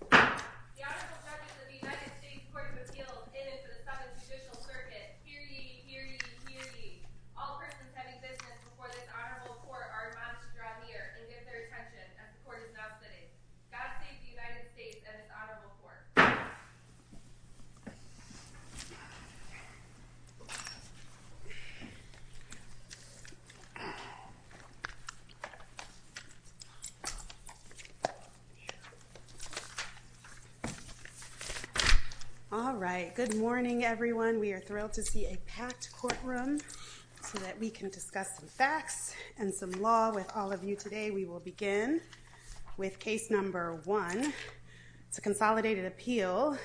The Honorable Justice of the United States Court of Appeals, in and for the second judicial circuit, hear ye, hear ye, hear ye. All persons having business before this Honorable Court are admonished to draw near and give their attention as the Court is now sitting. God save the United States and this Honorable Court. All right. Good morning, everyone. We are thrilled to see a packed courtroom so that we can discuss some facts and some law with all of you today. We will begin with case number one. It's a consolidated appeal,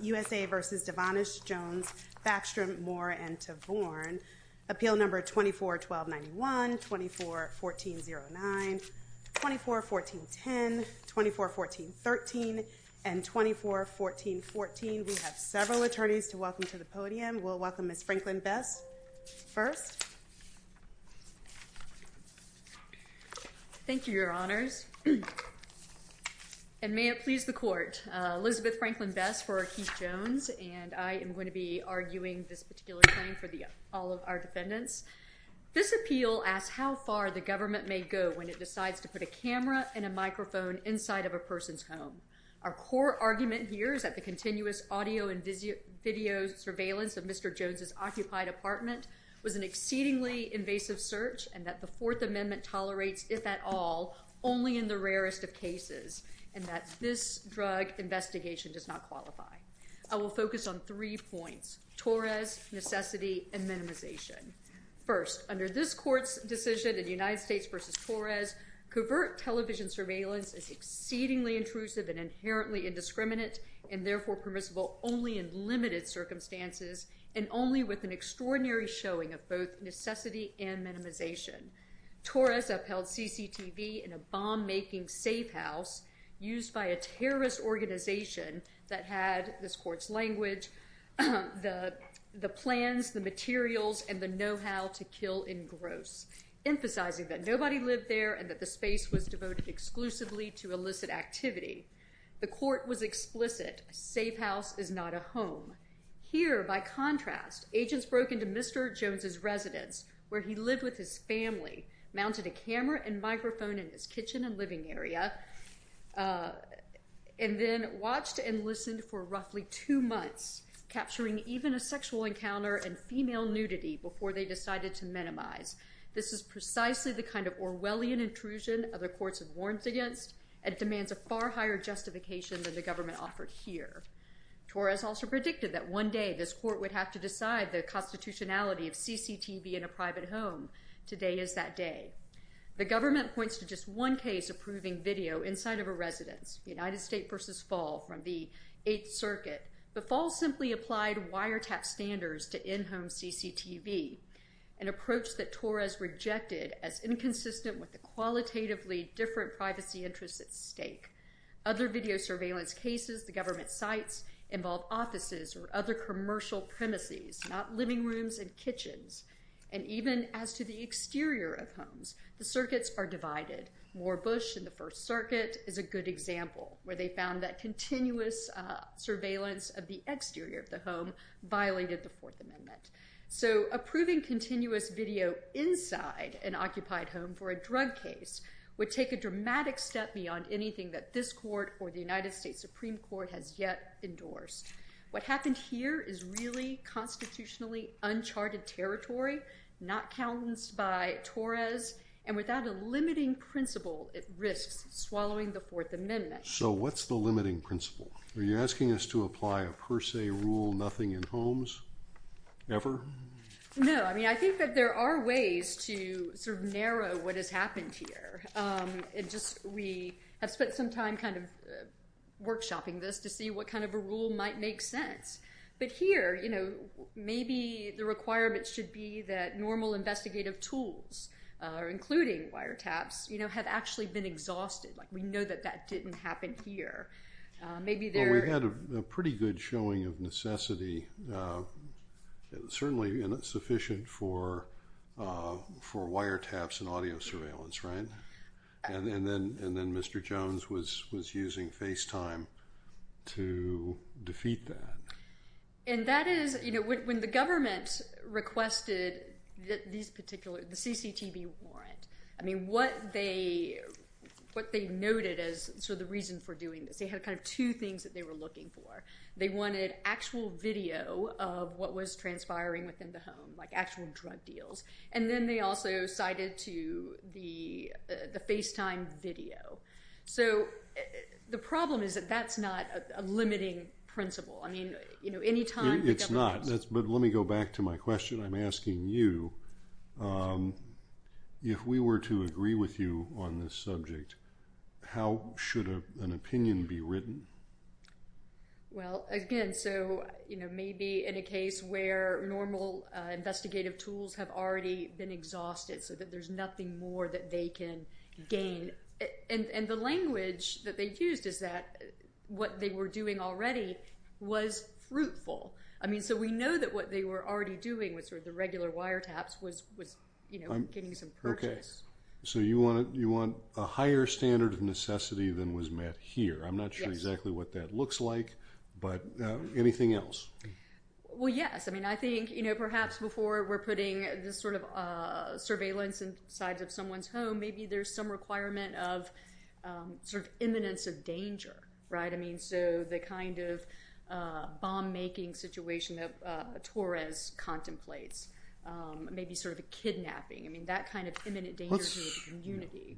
USA v. Devonish, Jones, Backstrom, Moore, and Tavorn. Appeal number 24-1291, 24-1409, 24-1410, 24-1413, and 24-1414. We have several attorneys to welcome to the podium. We'll welcome Ms. Franklin Bess first. Thank you, Your Honors. And may it please the Court, Elizabeth Franklin Bess for Keith Jones, and I am going to be arguing this particular claim for all of our defendants. This appeal asks how far the government may go when it decides to put a camera and a microphone inside of a person's home. Our core argument here is that the continuous audio and video surveillance of Mr. Jones' occupied apartment was an exceedingly invasive search and that the Fourth Amendment tolerates, if at all, only in the rarest of cases, and that this drug investigation does not qualify. I will focus on three points, Torres, necessity, and minimization. First, under this Court's decision in United States v. Torres, covert television surveillance is exceedingly intrusive and inherently indiscriminate and therefore permissible only in limited circumstances and only with an extraordinary showing of both necessity and minimization. Torres upheld CCTV in a bomb-making safe house used by a terrorist organization that had, this Court's language, the plans, the materials, and the know-how to kill in gross, emphasizing that nobody lived there and that the space was devoted exclusively to illicit activity. The Court was explicit, a safe house is not a home. Here, by contrast, agents broke into Mr. Jones' residence, where he lived with his family, mounted a camera and microphone in his kitchen and living area, and then watched and listened for roughly two months, capturing even a sexual encounter and female nudity before they decided to minimize. This is precisely the kind of Orwellian intrusion other courts have warned against and demands a far higher justification than the government offered here. Torres also predicted that one day this Court would have to decide the constitutionality of CCTV in a private home. Today is that day. The government points to just one case approving video inside of a residence, United States v. Fall from the Eighth Circuit. But Fall simply applied wiretap standards to in-home CCTV, an approach that Torres rejected as inconsistent with the qualitatively different privacy interests at stake. Other video surveillance cases the government cites involve offices or other commercial premises, not living rooms and kitchens. And even as to the exterior of homes, the circuits are divided. Moore Bush in the First Circuit is a good example where they found that continuous surveillance of the exterior of the home violated the Fourth Amendment. So approving continuous video inside an occupied home for a drug case would take a dramatic step beyond anything that this Court or the United States Supreme Court has yet endorsed. What happened here is really constitutionally uncharted territory, not countenanced by Torres. And without a limiting principle, it risks swallowing the Fourth Amendment. So what's the limiting principle? Are you asking us to apply a per se rule, nothing in homes? Ever? No. I mean, I think that there are ways to sort of narrow what has happened here. Just we have spent some time kind of workshopping this to see what kind of a rule might make sense. But here, you know, maybe the requirement should be that normal investigative tools, including wiretaps, you know, have actually been exhausted. We know that that didn't happen here. Well, we had a pretty good showing of necessity, certainly sufficient for wiretaps and audio surveillance, right? And then Mr. Jones was using FaceTime to defeat that. And that is, you know, when the government requested the CCTV warrant, I mean, what they noted as sort of the reason for doing this, they had kind of two things that they were looking for. They wanted actual video of what was transpiring within the home, like actual drug deals. And then they also cited to the FaceTime video. So the problem is that that's not a limiting principle. I mean, you know, any time the government asks. But let me go back to my question. I'm asking you, if we were to agree with you on this subject, how should an opinion be written? Well, again, so, you know, maybe in a case where normal investigative tools have already been exhausted so that there's nothing more that they can gain. And the language that they've used is that what they were doing already was fruitful. I mean, so we know that what they were already doing with sort of the regular wiretaps was, you know, getting some purchase. So you want a higher standard of necessity than was met here. I'm not sure exactly what that looks like, but anything else? Well, yes. I mean, I think, you know, perhaps before we're putting this sort of surveillance inside of someone's home, maybe there's some requirement of sort of imminence of danger. Right. I mean, so the kind of bomb making situation that Torres contemplates may be sort of a kidnapping. I mean, that kind of imminent danger to the community.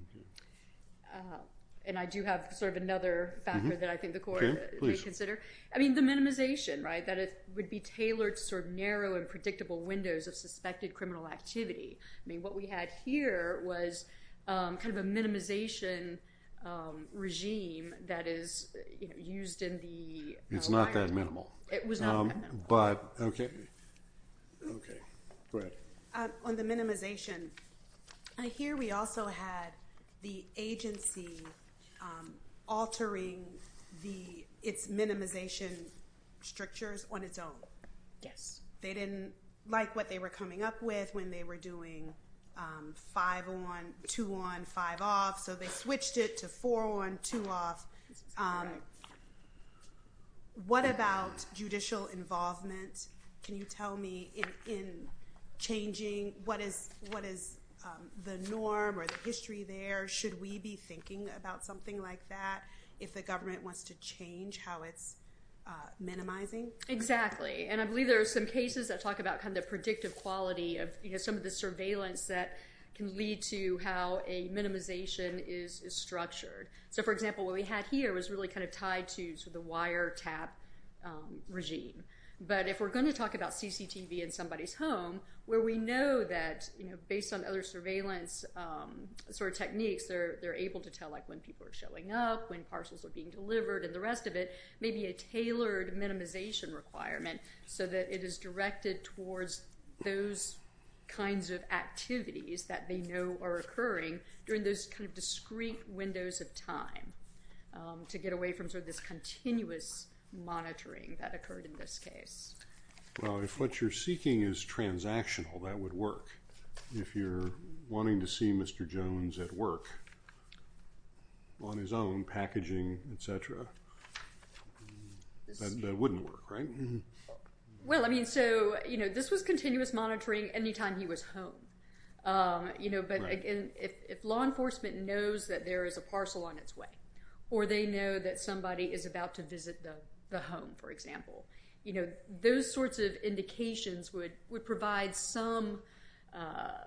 And I do have sort of another factor that I think the court may consider. I mean, the minimization, right? That it would be tailored to sort of narrow and predictable windows of suspected criminal activity. I mean, what we had here was kind of a minimization regime that is used in the wiretap. It's not that minimal. It was not that minimal. OK. OK. Go ahead. On the minimization, I hear we also had the agency altering its minimization strictures on its own. Yes. They didn't like what they were coming up with when they were doing five on, two on, five off. So they switched it to four on, two off. What about judicial involvement? Can you tell me in changing what is the norm or the history there? Should we be thinking about something like that if the government wants to change how it's minimizing? Exactly. And I believe there are some cases that talk about kind of predictive quality of some of the surveillance that can lead to how a minimization is structured. So for example, what we had here was really kind of tied to the wiretap regime. But if we're going to talk about CCTV in somebody's home, where we know that based on other surveillance sort of techniques, they're able to tell when people are showing up, when parcels are being delivered, and the rest of it, maybe a tailored minimization requirement so that it is directed towards those kinds of activities that they know are occurring during those kind of discrete windows of time to get away from sort of this continuous monitoring that occurred in this case. Well, if what you're seeking is transactional, that would work. If you're wanting to see Mr. Jones at work on his own, packaging, et cetera, that wouldn't work, right? Well, I mean, so, you know, this was continuous monitoring any time he was home. You know, but again, if law enforcement knows that there is a parcel on its way, or they know that somebody is about to visit the home, for example, you know, those sorts of indications would provide some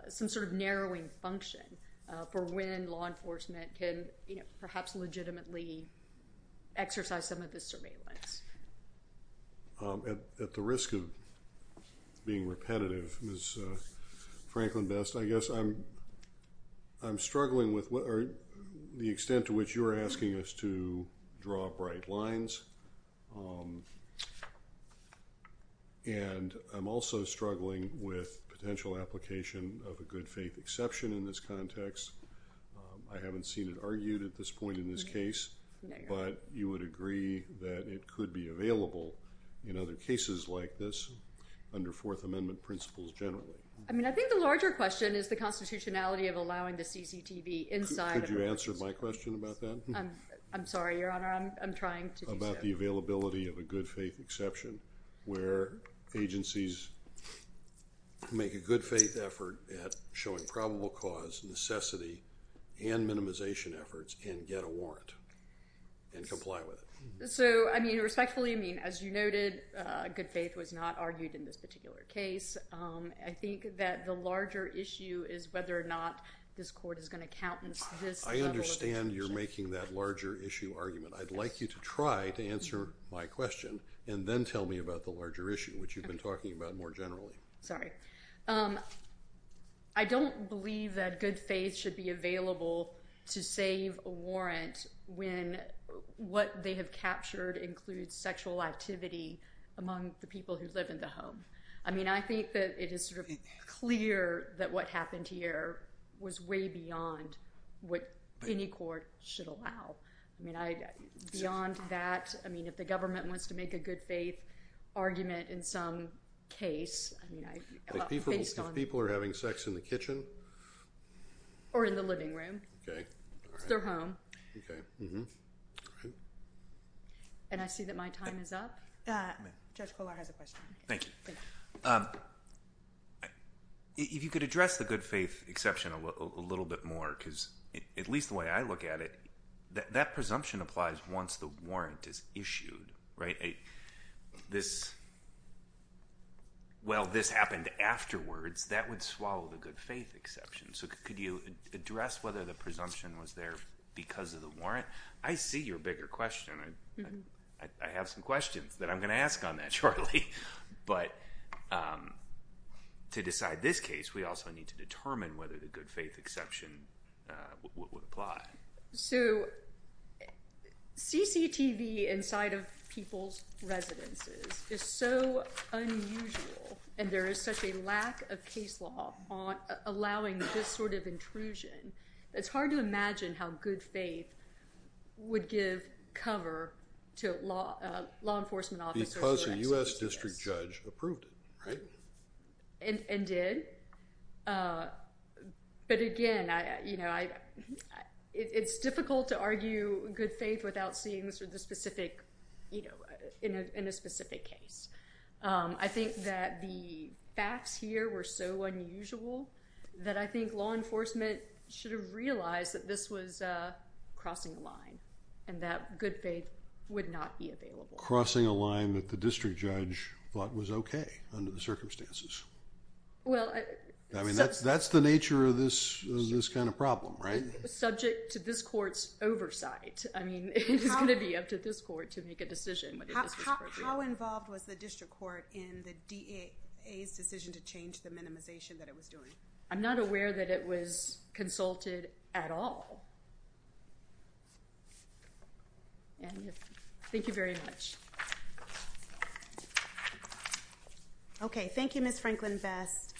sort of narrowing function for when law enforcement can, you know, perhaps legitimately exercise some of the surveillance. At the risk of being repetitive, Ms. Franklin-Best, I guess I'm struggling with the extent to which you're asking us to draw bright lines, and I'm also struggling with potential application of a good faith exception in this context. I haven't seen it argued at this point in this case, but you would agree that it could be available in other cases like this under Fourth Amendment principles generally. I mean, I think the larger question is the constitutionality of allowing the CCTV inside of a... Could you answer my question about that? I'm sorry, Your Honor, I'm trying to do so. About the availability of a good faith exception where agencies... make a good faith effort at showing probable cause, necessity, and minimization efforts and get a warrant and comply with it. So, I mean, respectfully, I mean, as you noted, good faith was not argued in this particular case. I think that the larger issue is whether or not this court is going to countenance this level of... I understand you're making that larger issue argument. I'd like you to try to answer my question and then tell me about the larger issue, which you've been talking about more generally. Sorry. I don't believe that good faith should be available to save a warrant when what they have captured includes sexual activity among the people who live in the home. I mean, I think that it is sort of clear that what happened here was way beyond what any court should allow. I mean, beyond that, I mean, if the government wants to make a good faith argument in some case, I mean, based on... If people are having sex in the kitchen? Or in the living room. Okay, all right. Because they're home. Okay, all right. And I see that my time is up. Judge Kollar has a question. Thank you. If you could address the good faith exception a little bit more, because at least the way I look at it, that presumption applies once the warrant is issued, right? This, well, this happened afterwards. That would swallow the good faith exception. So could you address whether the presumption was there because of the warrant? I see your bigger question. I have some questions that I'm going to ask on that shortly. But to decide this case, we also need to determine whether the good faith exception would apply. So CCTV inside of people's residences is so unusual, and there is such a lack of case law allowing this sort of intrusion. It's hard to imagine how good faith would give cover to law enforcement officers. Because the U.S. district judge approved it, right? And did. But again, you know, it's difficult to argue good faith without seeing the specific, you know, in a specific case. I think that the facts here were so unusual that I think law enforcement should have realized that this was crossing a line and that good faith would not be available. Crossing a line that the district judge thought was okay under the circumstances. I mean, that's the nature of this kind of problem, right? Subject to this court's oversight. I mean, it's going to be up to this court to make a decision. How involved was the district court in the DA's decision to change the minimization that it was doing? I'm not aware that it was consulted at all. Thank you very much. Okay. Thank you, Ms. Franklin-Best.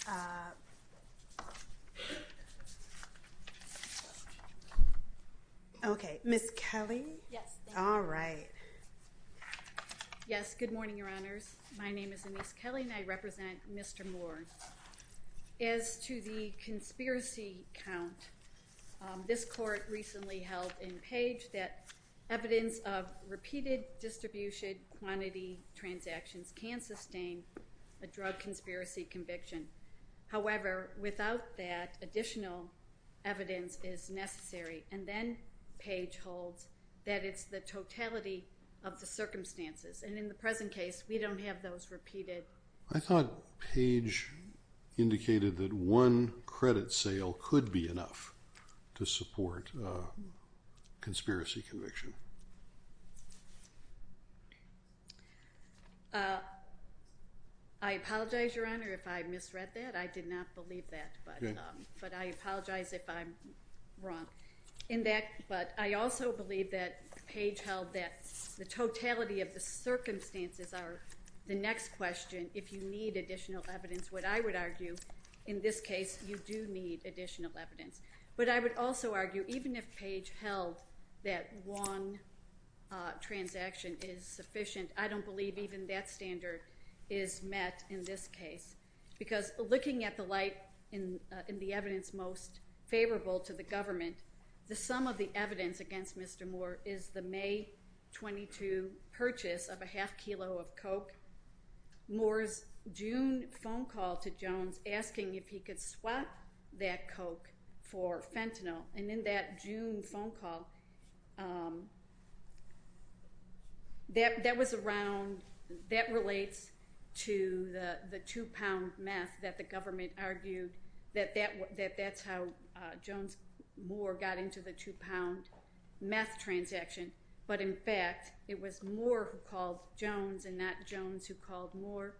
Okay. Ms. Kelly? Yes. All right. Yes. Good morning, Your Honors. My name is Anise Kelly, and I represent Mr. Moore. As to the conspiracy count, this court recently held in Page that evidence of repeated distribution quantity transactions can sustain a drug conspiracy conviction. However, without that, additional evidence is necessary. And then Page holds that it's the totality of the circumstances. And in the present case, we don't have those repeated. I thought Page indicated that one credit sale could be enough to support a conspiracy conviction. I apologize, Your Honor, if I misread that. I did not believe that. But I apologize if I'm wrong. But I also believe that Page held that the totality of the circumstances are the next question if you need additional evidence. What I would argue, in this case, you do need additional evidence. But I would also argue, even if Page held that one transaction is sufficient, I don't believe even that standard is met in this case. Because looking at the light and the evidence most favorable to the government, the sum of the evidence against Mr. Moore is the May 22 purchase of a half kilo of Coke. Moore's June phone call to Jones asking if he could swap that Coke for fentanyl. And in that June phone call, that relates to the two-pound meth that the government argued that that's how Jones Moore got into the two-pound meth transaction. But, in fact, it was Moore who called Jones and not Jones who called Moore.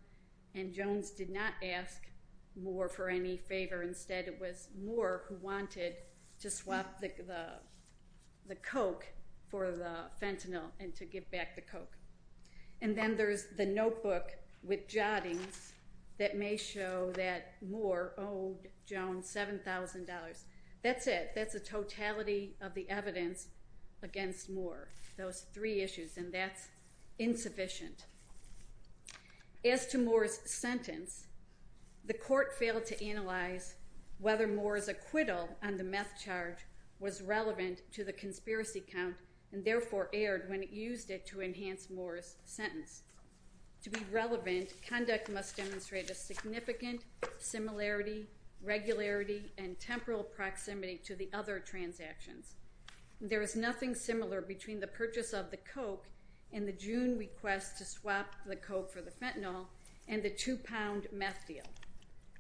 And Jones did not ask Moore for any favor. Instead, it was Moore who wanted to swap the Coke for the fentanyl and to give back the Coke. And then there's the notebook with jottings that may show that Moore owed Jones $7,000. That's it. That's the totality of the evidence against Moore, those three issues. And that's insufficient. As to Moore's sentence, the court failed to analyze whether Moore's acquittal on the meth charge was relevant to the conspiracy count and, therefore, aired when it used it to enhance Moore's sentence. To be relevant, conduct must demonstrate a significant similarity, regularity, and temporal proximity to the other transactions. There is nothing similar between the purchase of the Coke and the June request to swap the Coke for the fentanyl and the two-pound meth deal.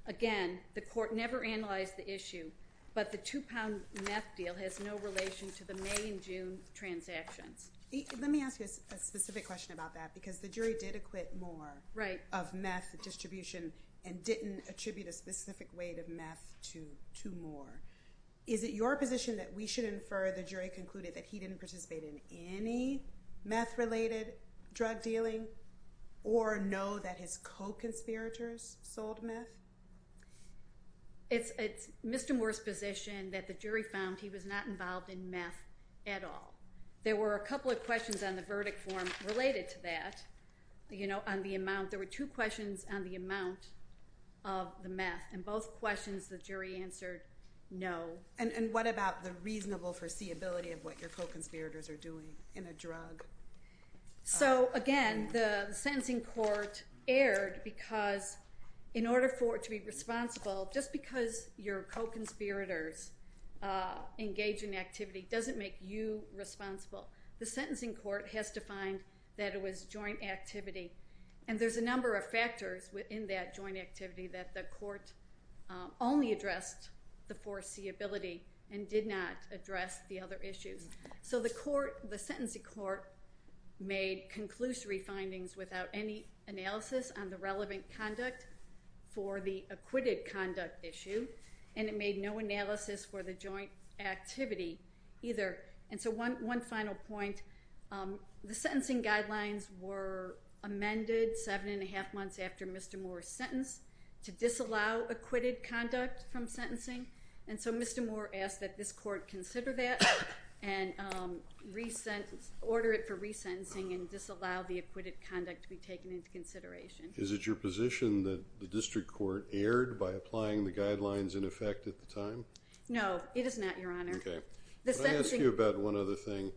Again, the court never analyzed the issue, but the two-pound meth deal has no relation to the May and June transactions. Let me ask you a specific question about that because the jury did acquit Moore of meth distribution and didn't attribute a specific weight of meth to Moore. Is it your position that we should infer the jury concluded that he didn't participate in any meth-related drug dealing or know that his Coke conspirators sold meth? It's Mr. Moore's position that the jury found he was not involved in meth at all. There were a couple of questions on the verdict form related to that, you know, on the amount. There were two questions on the amount of the meth, and both questions the jury answered no. And what about the reasonable foreseeability of what your Coke conspirators are doing in a drug? So, again, the sentencing court erred because in order for it to be responsible, just because your Coke conspirators engage in activity doesn't make you responsible. The sentencing court has to find that it was joint activity. And there's a number of factors within that joint activity that the court only addressed the foreseeability and did not address the other issues. So the court, the sentencing court, made conclusory findings without any analysis on the relevant conduct for the acquitted conduct issue. And it made no analysis for the joint activity either. And so one final point. The sentencing guidelines were amended seven and a half months after Mr. Moore's sentence to disallow acquitted conduct from sentencing. And so Mr. Moore asked that this court consider that and order it for resentencing and disallow the acquitted conduct to be taken into consideration. Is it your position that the district court erred by applying the guidelines in effect at the time? No, it is not, Your Honor. Okay. Let me ask you about one other thing.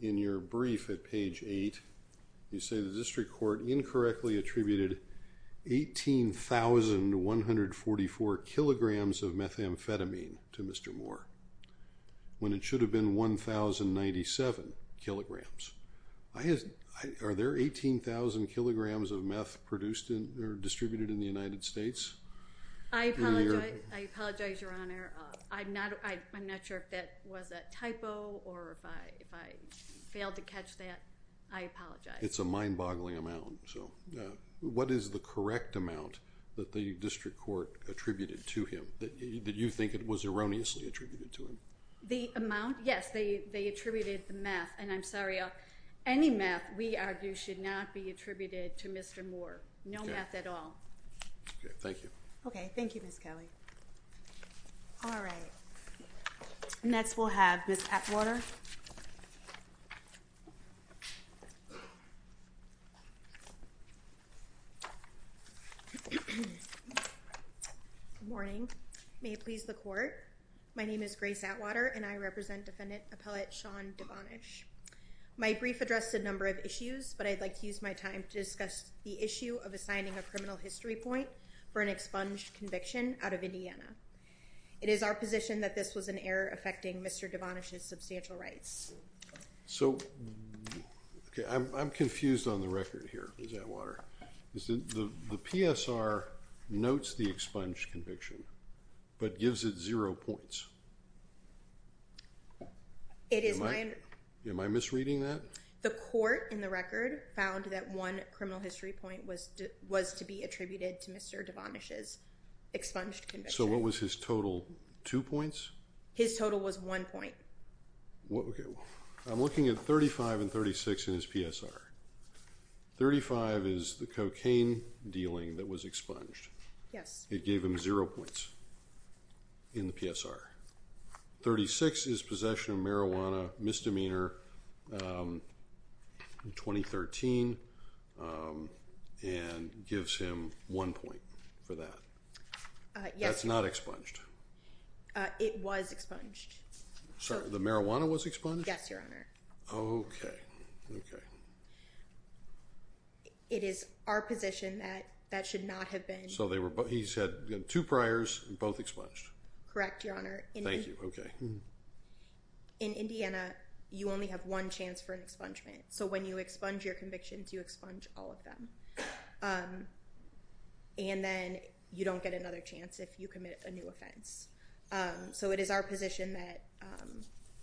In your brief at page eight, you say the district court incorrectly attributed 18,144 kilograms of methamphetamine to Mr. Moore when it should have been 1,097 kilograms. Are there 18,000 kilograms of meth produced or distributed in the United States? I apologize, Your Honor. I'm not sure if that was a typo or if I failed to catch that. I apologize. It's a mind-boggling amount. What is the correct amount that the district court attributed to him that you think was erroneously attributed to him? The amount? Yes, they attributed the meth. And I'm sorry, any meth, we argue, should not be attributed to Mr. Moore. No meth at all. Okay. Thank you. Okay. Thank you, Ms. Kelly. All right. Next, we'll have Ms. Atwater. Good morning. May it please the court? My name is Grace Atwater, and I represent Defendant Appellate Sean Devonish. My brief addressed a number of issues, but I'd like to use my time to discuss the issue of assigning a criminal history point for an expunged conviction out of Indiana. It is our position that this was an error affecting Mr. Devonish's substantial rights. So, okay, I'm confused on the record here, Ms. Atwater. The PSR notes the expunged conviction but gives it zero points. Am I misreading that? The court in the record found that one criminal history point was to be attributed to Mr. Devonish's expunged conviction. So what was his total? Two points? His total was one point. Okay. I'm looking at 35 and 36 in his PSR. 35 is the cocaine dealing that was expunged. Yes. It gave him zero points in the PSR. 36 is possession of marijuana misdemeanor in 2013 and gives him one point for that. Yes. That's not expunged. It was expunged. The marijuana was expunged? Yes, Your Honor. Okay, okay. It is our position that that should not have been. So he's had two priors and both expunged. Correct, Your Honor. Thank you. Okay. In Indiana, you only have one chance for an expungement. So when you expunge your convictions, you expunge all of them. And then you don't get another chance if you commit a new offense. So it is our position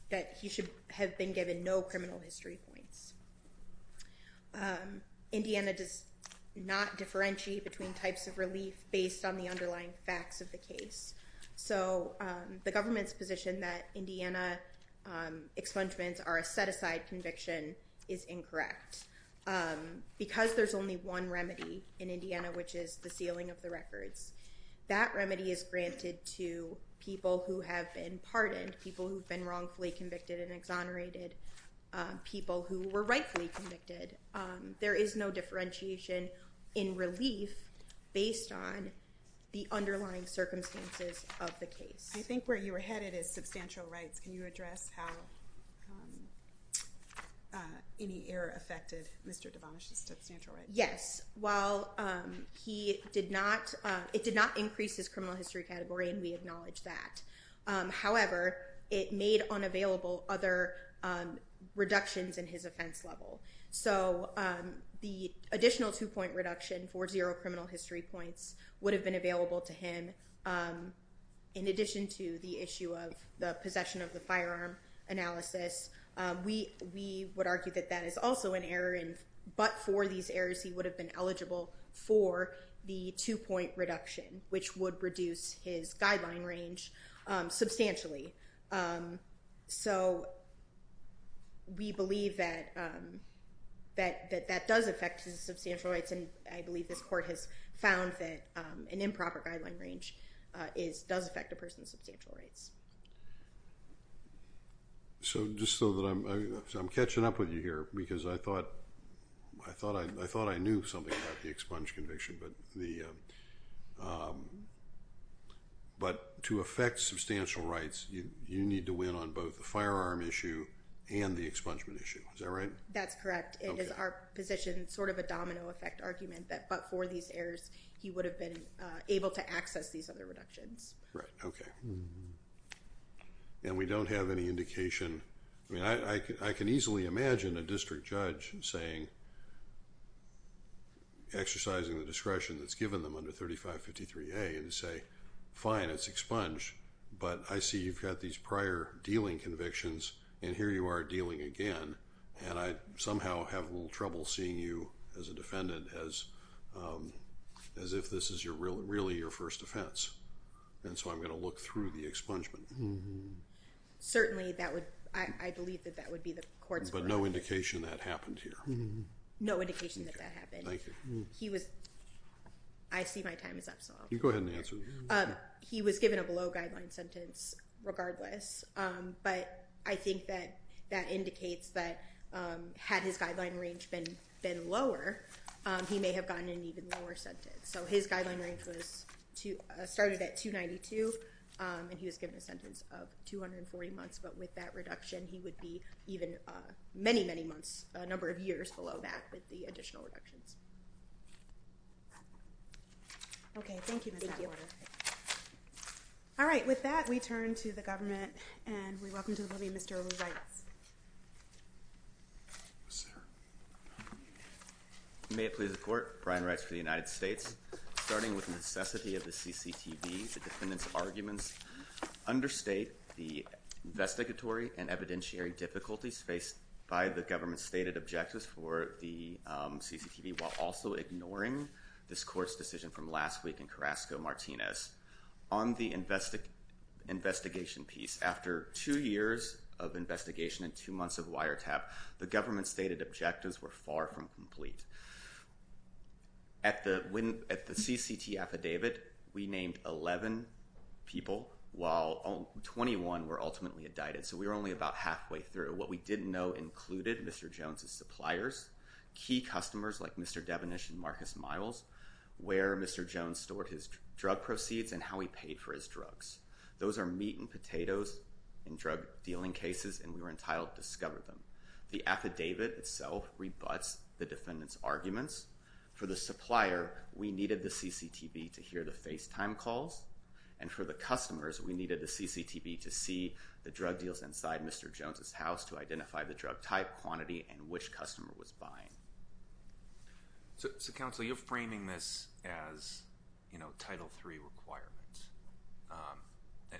that he should have been given no criminal history points. Indiana does not differentiate between types of relief based on the underlying facts of the case. So the government's position that Indiana expungements are a set-aside conviction is incorrect. Because there's only one remedy in Indiana, which is the sealing of the records, that remedy is granted to people who have been pardoned, people who have been wrongfully convicted, and exonerated people who were rightfully convicted. There is no differentiation in relief based on the underlying circumstances of the case. I think where you were headed is substantial rights. Can you address how any error affected Mr. Devonish's substantial rights? Yes. While it did not increase his criminal history category, and we acknowledge that. However, it made unavailable other reductions in his offense level. So the additional two-point reduction for zero criminal history points would have been available to him. In addition to the issue of the possession of the firearm analysis, we would argue that that is also an error. But for these errors, he would have been eligible for the two-point reduction, which would reduce his guideline range substantially. So we believe that that does affect his substantial rights, and I believe this court has found that an improper guideline range does affect a person's substantial rights. So just so that I'm catching up with you here, because I thought I knew something about the expunge conviction, but to affect substantial rights, you need to win on both the firearm issue and the expungement issue. Is that right? That's correct. It is our position, sort of a domino effect argument, that but for these errors, he would have been able to access these other reductions. Right. Okay. And we don't have any indication. I can easily imagine a district judge exercising the discretion that's given them under 3553A and say, fine, it's expunged, but I see you've got these prior dealing convictions, and here you are dealing again, and I somehow have a little trouble seeing you as a defendant as if this is really your first offense. And so I'm going to look through the expungement. Certainly that would, I believe that that would be the court's. But no indication that happened here. No indication that that happened. Thank you. He was, I see my time is up. You go ahead and answer. He was given a below guideline sentence regardless, but I think that that indicates that had his guideline range been lower, he may have gotten an even lower sentence. So his guideline range was started at 292, and he was given a sentence of 240 months. But with that reduction, he would be even many, many months, a number of years below that with the additional reductions. Okay. Thank you. Thank you. All right. With that, we turn to the government, and we welcome to the podium Mr. Reitz. Yes, sir. May it please the court. Brian Reitz for the United States. Starting with necessity of the CCTV, the defendant's arguments understate the investigatory and evidentiary difficulties faced by the government's stated objectives for the CCTV, while also ignoring this court's decision from last week in Carrasco Martinez on the investigation piece. After two years of investigation and two months of wiretap, the government's stated objectives were far from complete. At the CCT affidavit, we named 11 people, while 21 were ultimately indicted. So we were only about halfway through. What we didn't know included Mr. Jones' suppliers, key customers like Mr. Devinish and Marcus Miles, where Mr. Jones stored his drug proceeds, and how he paid for his drugs. Those are meat and potatoes in drug-dealing cases, and we were entitled to discover them. The affidavit itself rebuts the defendant's arguments. For the supplier, we needed the CCTV to hear the FaceTime calls, and for the customers, we needed the CCTV to see the drug deals inside Mr. Jones' house to identify the drug type, quantity, and which customer was buying. So, counsel, you're framing this as, you know, Title III requirements.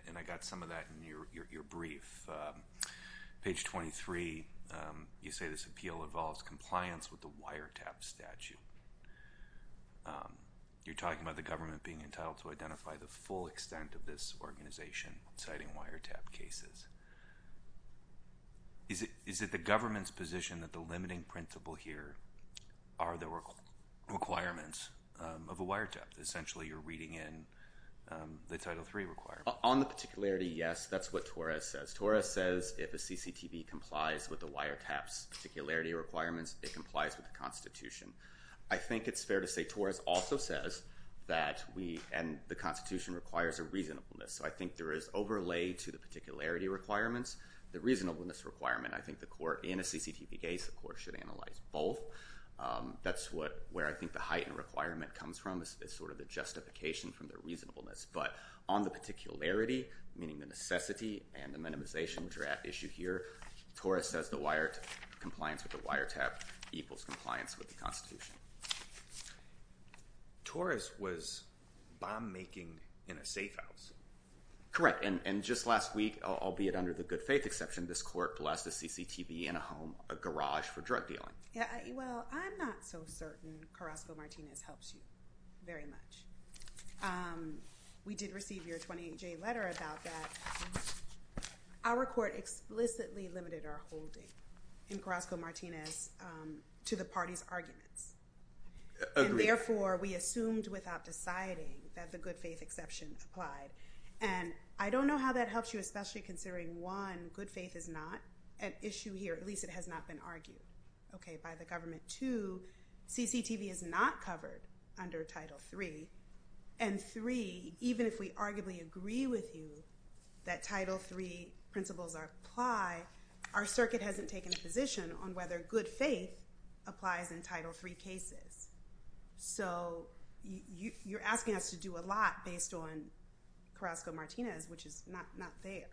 And I got some of that in your brief. Page 23, you say this appeal involves compliance with the wiretap statute. You're talking about the government being entitled to identify the full extent of this organization, citing wiretap cases. Is it the government's position that the limiting principle here are the requirements of a wiretap? Essentially, you're reading in the Title III requirements. On the particularity, yes, that's what Torres says. Torres says if a CCTV complies with the wiretap's particularity requirements, it complies with the Constitution. I think it's fair to say Torres also says that we, and the Constitution, requires a reasonableness. So I think there is overlay to the particularity requirements. The reasonableness requirement, I think the court, in a CCTV case, the court should analyze both. That's where I think the heightened requirement comes from, is sort of the justification from the reasonableness. But on the particularity, meaning the necessity and the minimization draft issue here, Torres says the wiretap compliance with the wiretap equals compliance with the Constitution. Torres was bomb-making in a safe house. Correct. And just last week, albeit under the good faith exception, this court blessed a CCTV in a home, a garage, for drug dealing. Well, I'm not so certain Carrasco-Martinez helps you very much. We did receive your 28-J letter about that. Our court explicitly limited our holding in Carrasco-Martinez to the party's arguments. Agreed. And therefore, we assumed without deciding that the good faith exception applied. And I don't know how that helps you, especially considering, one, good faith is not an issue here. At least it has not been argued by the government. Two, CCTV is not covered under Title III. And three, even if we arguably agree with you that Title III principles apply, our circuit hasn't taken a position on whether good faith applies in Title III cases. So you're asking us to do a lot based on Carrasco-Martinez, which is not there.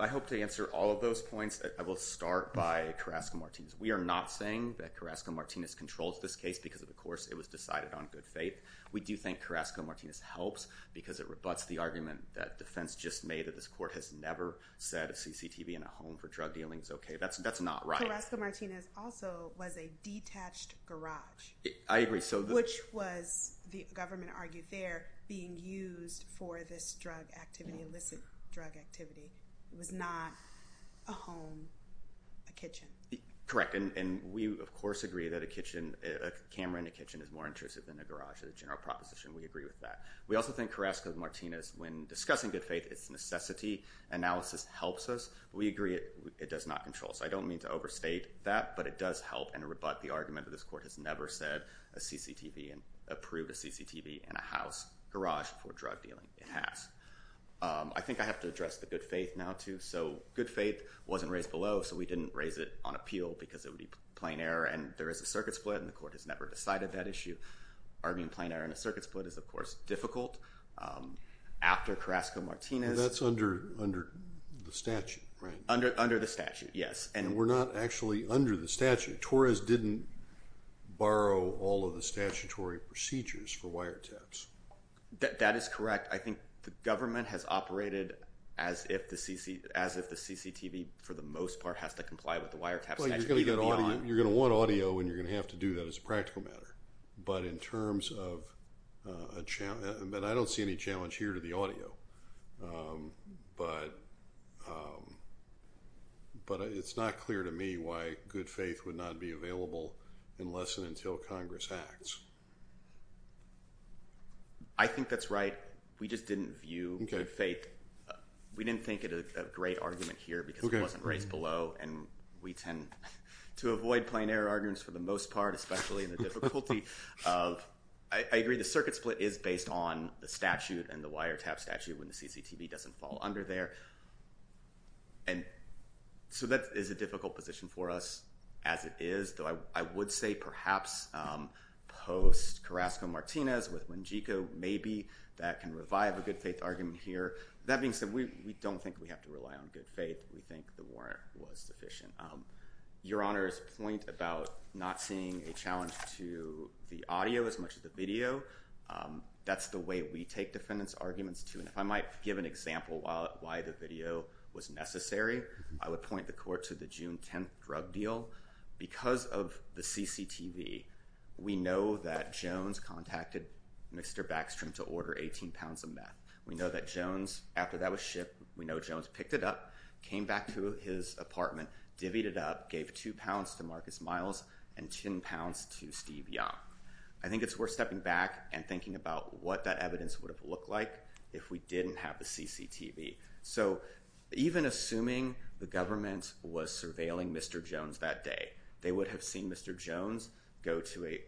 I hope to answer all of those points. I will start by Carrasco-Martinez. We are not saying that Carrasco-Martinez controls this case because, of course, it was decided on good faith. We do think Carrasco-Martinez helps because it rebuts the argument that defense just made that this court has never said a CCTV in a home for drug dealing is okay. That's not right. Carrasco-Martinez also was a detached garage. I agree. Which was, the government argued there, being used for this drug activity, illicit drug activity. It was not a home, a kitchen. Correct. And we, of course, agree that a camera in a kitchen is more intrusive than a garage. It's a general proposition. We agree with that. We also think Carrasco-Martinez, when discussing good faith, its necessity analysis helps us. We agree it does not control us. I don't mean to overstate that, but it does help and rebut the argument that this court has never said a CCTV and approved a CCTV in a house garage for drug dealing. It has. I think I have to address the good faith now, too. So good faith wasn't raised below, so we didn't raise it on appeal because it would be plain error and there is a circuit split and the court has never decided that issue. Arguing plain error in a circuit split is, of course, difficult. After Carrasco-Martinez. That's under the statute, right? Under the statute, yes. And we're not actually under the statute. Torres didn't borrow all of the statutory procedures for wiretaps. That is correct. I think the government has operated as if the CCTV, for the most part, has to comply with the wiretap statute. You're going to want audio and you're going to have to do that as a practical matter. But in terms of a challenge, and I don't see any challenge here to the audio, but it's not clear to me why good faith would not be available unless and until Congress acts. I think that's right. We just didn't view good faith. We didn't think it a great argument here because it wasn't raised below and we tend to avoid plain error arguments for the most part, especially in the difficulty of, I agree the circuit split is based on the statute and the wiretap statute when the CCTV doesn't fall under there. And so that is a difficult position for us as it is, though I would say perhaps post Carrasco-Martinez with Wengico, maybe that can revive a good faith argument here. That being said, we don't think we have to rely on good faith. We think the warrant was sufficient. Your Honor's point about not seeing a challenge to the audio as much as the video, that's the way we take defendant's arguments too. And if I might give an example why the video was necessary, I would point the court to the June 10th drug deal. Because of the CCTV, we know that Jones contacted Mr. Backstrom to order 18 pounds of meth. We know that Jones, after that was shipped, we know Jones picked it up, came back to his apartment, divvied it up, gave two pounds to Marcus Miles and 10 pounds to Steve Young. I think it's worth stepping back and thinking about what that evidence would have looked like if we didn't have the CCTV. So even assuming the government was surveilling Mr. Jones that day, they would have seen Mr. Jones go to a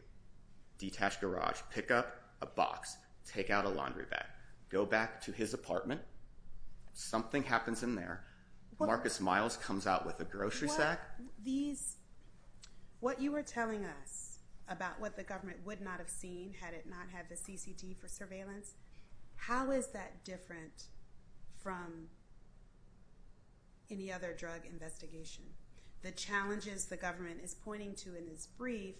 detached garage, pick up a box, take out a laundry bag, go back to his apartment, something happens in there, Marcus Miles comes out with a grocery sack. What you were telling us about what the government would not have seen had it not had the CCT for surveillance. How is that different from any other drug investigation? The challenges the government is pointing to in this brief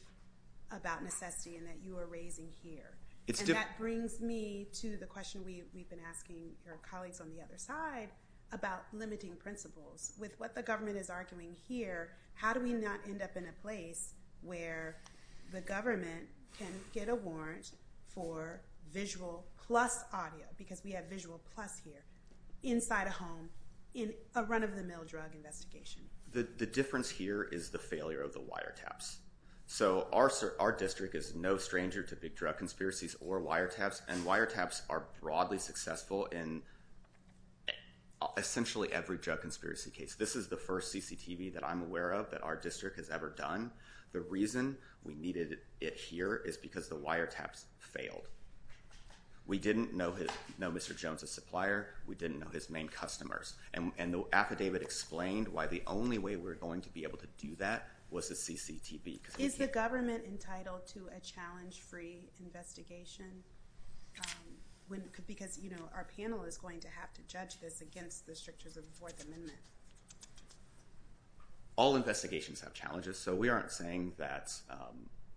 about necessity and that you are raising here. And that brings me to the question we've been asking our colleagues on the other side about limiting principles. With what the government is arguing here, how do we not end up in a place where the government can get a warrant for visual plus audio, because we have visual plus here, inside a home in a run-of-the-mill drug investigation? The difference here is the failure of the wiretaps. So our district is no stranger to big drug conspiracies or wiretaps, and wiretaps are broadly successful in essentially every drug conspiracy case. This is the first CCTV that I'm aware of that our district has ever done. The reason we needed it here is because the wiretaps failed. We didn't know Mr. Jones' supplier. We didn't know his main customers. And the affidavit explained why the only way we were going to be able to do that was the CCTV. Is the government entitled to a challenge-free investigation? Because, you know, our panel is going to have to judge this as the strictures of the Fourth Amendment. All investigations have challenges, so we aren't saying that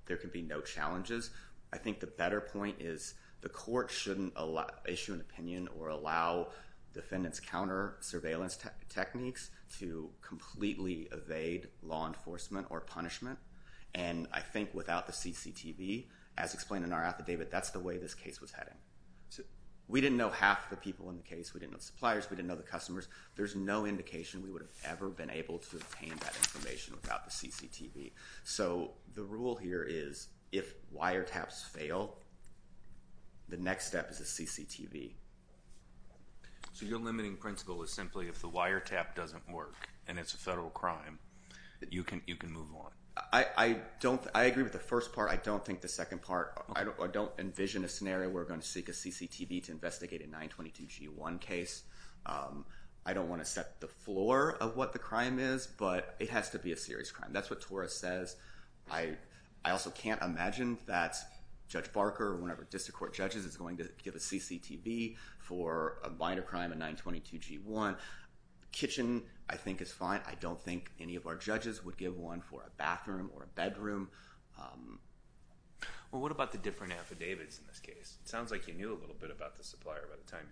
there can be no challenges. I think the better point is the court shouldn't issue an opinion or allow defendants' counter-surveillance techniques to completely evade law enforcement or punishment. And I think without the CCTV, as explained in our affidavit, that's the way this case was heading. We didn't know half the people in the case. We didn't know the suppliers. We didn't know the customers. There's no indication we would have ever been able to obtain that information without the CCTV. So the rule here is if wiretaps fail, the next step is a CCTV. So your limiting principle is simply if the wiretap doesn't work and it's a federal crime, you can move on? I agree with the first part. I don't think the second part. I don't envision a scenario where we're going to seek a CCTV to investigate a 922G1 case. I don't want to set the floor of what the crime is, but it has to be a serious crime. That's what Torres says. I also can't imagine that Judge Barker or whatever district court judges is going to give a CCTV for a minor crime, a 922G1. Kitchen, I think, is fine. I don't think any of our judges would give one for a bathroom or a bedroom. Well, what about the different affidavits in this case? It sounds like you knew a little bit about the supplier by the time.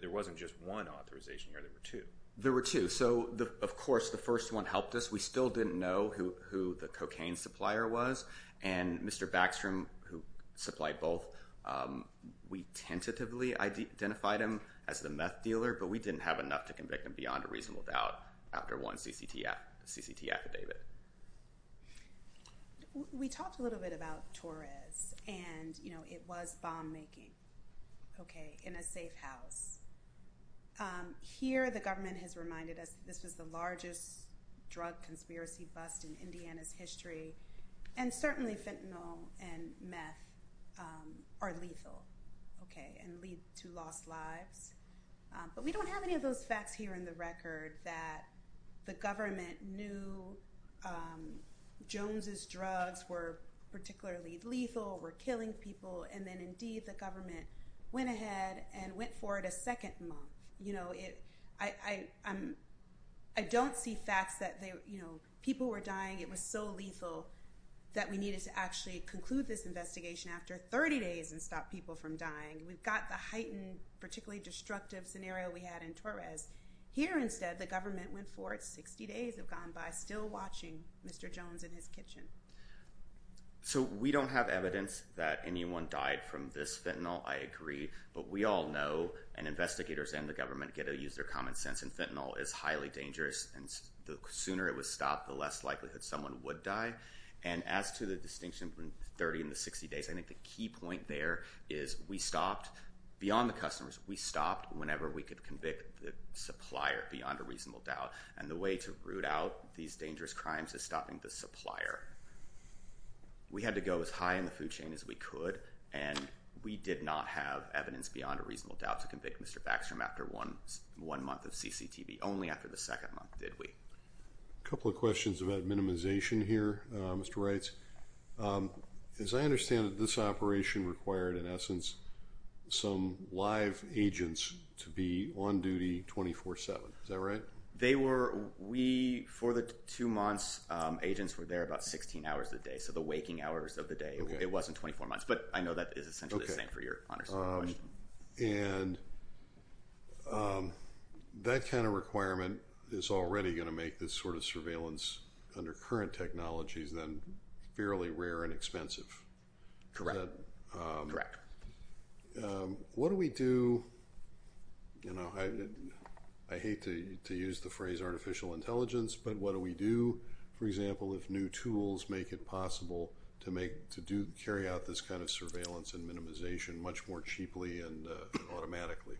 There wasn't just one authorization here. There were two. There were two. Of course, the first one helped us. We still didn't know who the cocaine supplier was, and Mr. Backstrom, who supplied both, we tentatively identified him as the meth dealer, but we didn't have enough to convict him beyond a reasonable doubt after one CCT affidavit. We talked a little bit about Torres, and it was bomb-making in a safe house. Here the government has reminded us that this was the largest drug conspiracy bust in Indiana's history, and certainly fentanyl and meth are lethal and lead to lost lives, but we don't have any of those facts here in the record that the government knew Jones's drugs were particularly lethal, were killing people, and then indeed the government went ahead and went for it a second month. I don't see facts that people were dying. It was so lethal that we needed to actually conclude this investigation after 30 days and stop people from dying. We've got the heightened, particularly destructive scenario we had in Torres. Here instead the government went for it 60 days have gone by still watching Mr. Jones in his kitchen. So we don't have evidence that anyone died from this fentanyl, I agree, but we all know, and investigators and the government get to use their common sense, and fentanyl is highly dangerous, and the sooner it was stopped the less likelihood someone would die, and as to the distinction between 30 and the 60 days, I think the key point there is we stopped, beyond the customers, we stopped whenever we could convict the supplier beyond a reasonable doubt, and the way to root out these dangerous crimes is stopping the supplier. We had to go as high in the food chain as we could, and we did not have evidence beyond a reasonable doubt to convict Mr. Backstrom after one month of CCTV, only after the second month did we. A couple of questions about minimization here, Mr. Reitz. As I understand it, this operation required, in essence, some live agents to be on duty 24-7, is that right? They were, we, for the two months, agents were there about 16 hours a day, so the waking hours of the day, it wasn't 24 months, but I know that is essentially the same for your honest question. And that kind of requirement is already going to make this sort of surveillance under current technologies then fairly rare and expensive. Correct. What do we do, you know, I hate to use the phrase artificial intelligence, but what do we do, for example, if new tools make it possible to make, to do, carry out this kind of surveillance and minimization much more cheaply and automatically?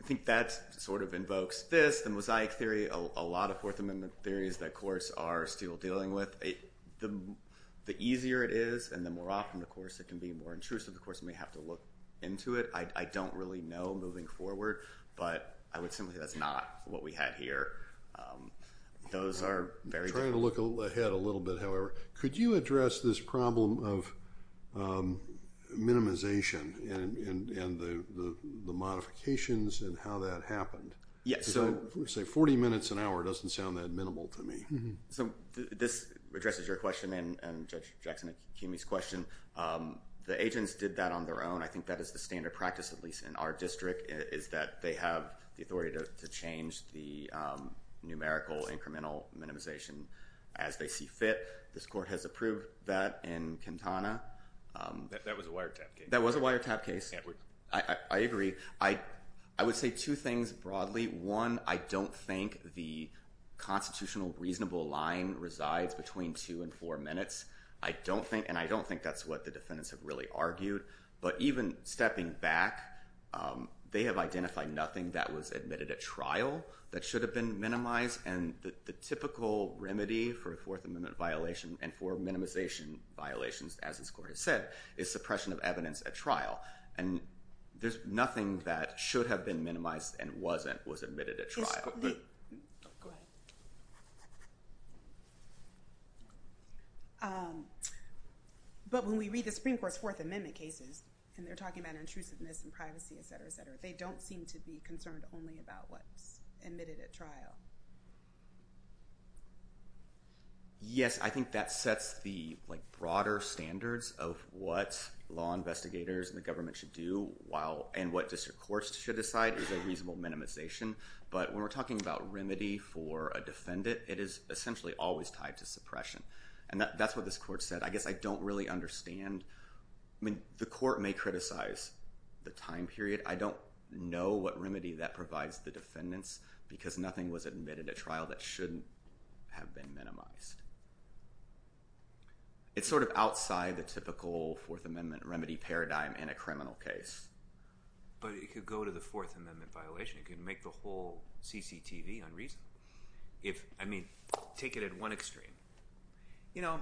I think that sort of invokes this, the mosaic theory, a lot of Fourth Amendment theories that courts are still dealing with. The easier it is and the more often, of course, it can be more intrusive. The courts may have to look into it. I don't really know moving forward, but I would simply say that's not what we had here. Those are very different. I'm trying to look ahead a little bit, however. Could you address this problem of minimization and the modifications and how that happened? Yes. Say 40 minutes an hour doesn't sound that minimal to me. This addresses your question and Judge Jackson-Akimi's question. The agents did that on their own. I think that is the standard practice, at least in our district, is that they have the authority to change the numerical incremental minimization as they see fit. This court has approved that in Kintana. That was a wiretap case. That was a wiretap case. I agree. I would say two things broadly. One, I don't think the constitutional reasonable line resides between two and four minutes, and I don't think that's what the defendants have really argued. Even stepping back, they have identified nothing that was admitted at trial that should have been minimized. The typical remedy for a Fourth Amendment violation and for minimization violations, as this court has said, is suppression of evidence at trial. There's nothing that should have been minimized and wasn't, was admitted at trial. Go ahead. But when we read the Supreme Court's Fourth Amendment cases, and they're talking about intrusiveness and privacy, et cetera, et cetera, they don't seem to be concerned only about what's admitted at trial. Yes, I think that sets the broader standards of what law investigators and the government should do and what district courts should decide is a reasonable minimization. But when we're talking about remedy for a defendant, it is essentially always tied to suppression. And that's what this court said. I guess I don't really understand. I mean, the court may criticize the time period. I don't know what remedy that provides the defendants because nothing was admitted at trial that shouldn't have been minimized. It's sort of outside the typical Fourth Amendment remedy paradigm in a criminal case. But it could go to the Fourth Amendment violation. It could make the whole CCTV unreasonable. I mean, take it at one extreme. You know,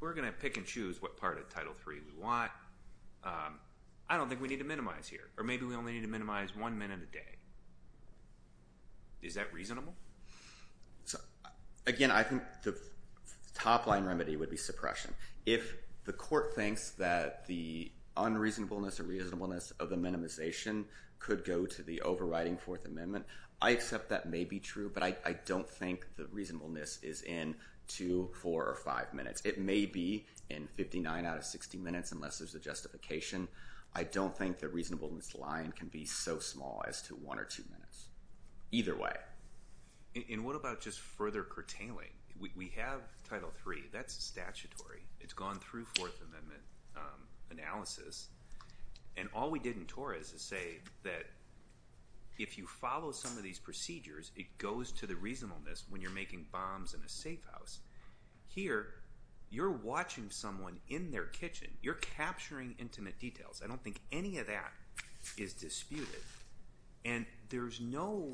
we're going to pick and choose what part of Title III we want. I don't think we need to minimize here. Or maybe we only need to minimize one minute a day. Is that reasonable? Again, I think the top-line remedy would be suppression. If the court thinks that the unreasonableness or reasonableness of the minimization could go to the overriding Fourth Amendment, I accept that may be true, but I don't think the reasonableness is in 2, 4, or 5 minutes. It may be in 59 out of 60 minutes unless there's a justification. I don't think the reasonableness line can be so small as to 1 or 2 minutes. Either way. And what about just further curtailing? We have Title III. That's statutory. It's gone through Fourth Amendment analysis. And all we did in TOR is to say that if you follow some of these procedures, it goes to the reasonableness when you're making bombs in a safe house. Here, you're watching someone in their kitchen. You're capturing intimate details. I don't think any of that is disputed. And there's no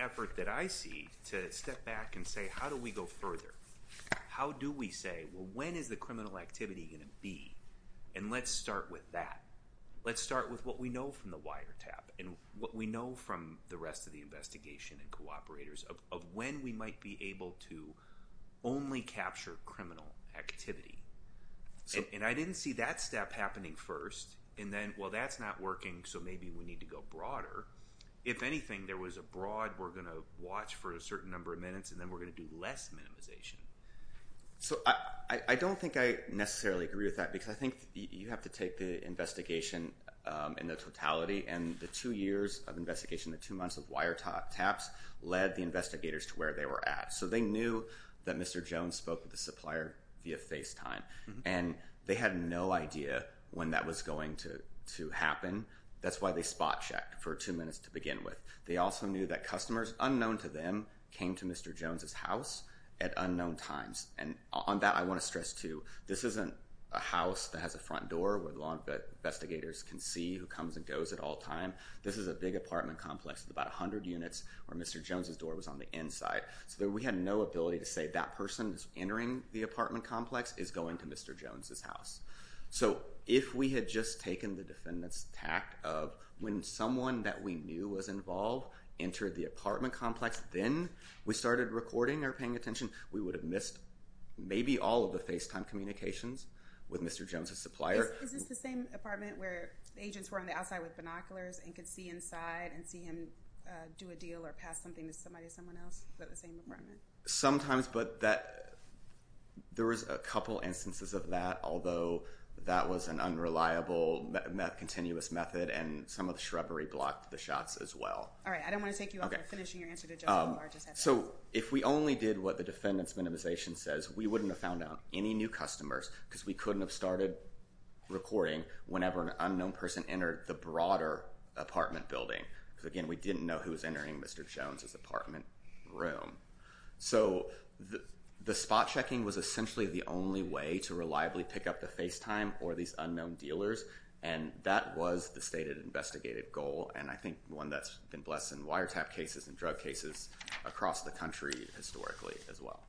effort that I see to step back and say, how do we go further? How do we say, well, when is the criminal activity going to be? And let's start with that. Let's start with what we know from the wiretap and what we know from the rest of the investigation and cooperators of when we might be able to only capture criminal activity. And I didn't see that step happening first. And then, well, that's not working, so maybe we need to go broader. If anything, there was a broad, we're going to watch for a certain number of minutes, and then we're going to do less minimization. So I don't think I necessarily agree with that, because I think you have to take the investigation in the totality. And the two years of investigation, the two months of wiretaps, led the investigators to where they were at. So they knew that Mr. Jones spoke with the supplier via FaceTime, and they had no idea when that was going to happen. That's why they spot-checked for two minutes to begin with. They also knew that customers unknown to them came to Mr. Jones' house at unknown times. And on that, I want to stress, too, this isn't a house that has a front door where investigators can see who comes and goes at all times. This is a big apartment complex with about 100 units where Mr. Jones' door was on the inside. So we had no ability to say, that person who's entering the apartment complex is going to Mr. Jones' house. So if we had just taken the defendant's tact of when someone that we knew was involved entered the apartment complex, then we started recording or paying attention, we would have missed maybe all of the FaceTime communications with Mr. Jones' supplier. Is this the same apartment where agents were on the outside with binoculars and could see inside and see him do a deal or pass something to somebody or someone else, but the same apartment? Sometimes, but there was a couple instances of that, although that was an unreliable, continuous method, and some of the shrubbery blocked the shots as well. All right, I don't want to take you off by finishing your answer to Judge Lamar. So if we only did what the defendant's minimization says, we wouldn't have found out any new customers because we couldn't have started recording whenever an unknown person entered the broader apartment building. Again, we didn't know who was entering Mr. Jones' apartment room. So the spot checking was essentially the only way to reliably pick up the FaceTime or these unknown dealers, and that was the stated investigative goal, and I think one that's been blessed in wiretap cases and drug cases across the country historically as well.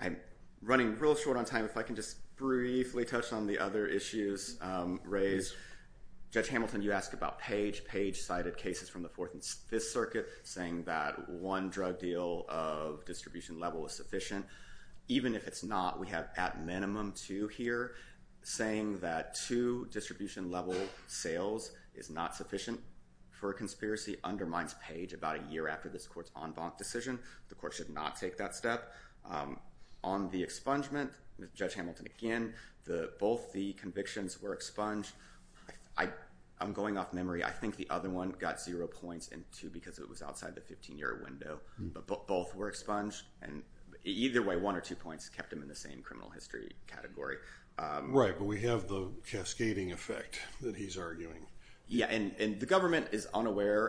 I'm running real short on time. If I can just briefly touch on the other issues raised. Judge Hamilton, you asked about Page. Page cited cases from the Fourth and Fifth Circuit saying that one drug deal of distribution level is sufficient. Even if it's not, we have at minimum two here, saying that two distribution level sales is not sufficient for a conspiracy undermines Page about a year after this court's en banc decision. The court should not take that step. On the expungement, Judge Hamilton, again, both the convictions were expunged. I'm going off memory. I think the other one got zero points and two because it was outside the 15-year window, but both were expunged, and either way, one or two points kept him in the same criminal history category. Right, but we have the cascading effect that he's arguing. Yeah, and the government is unaware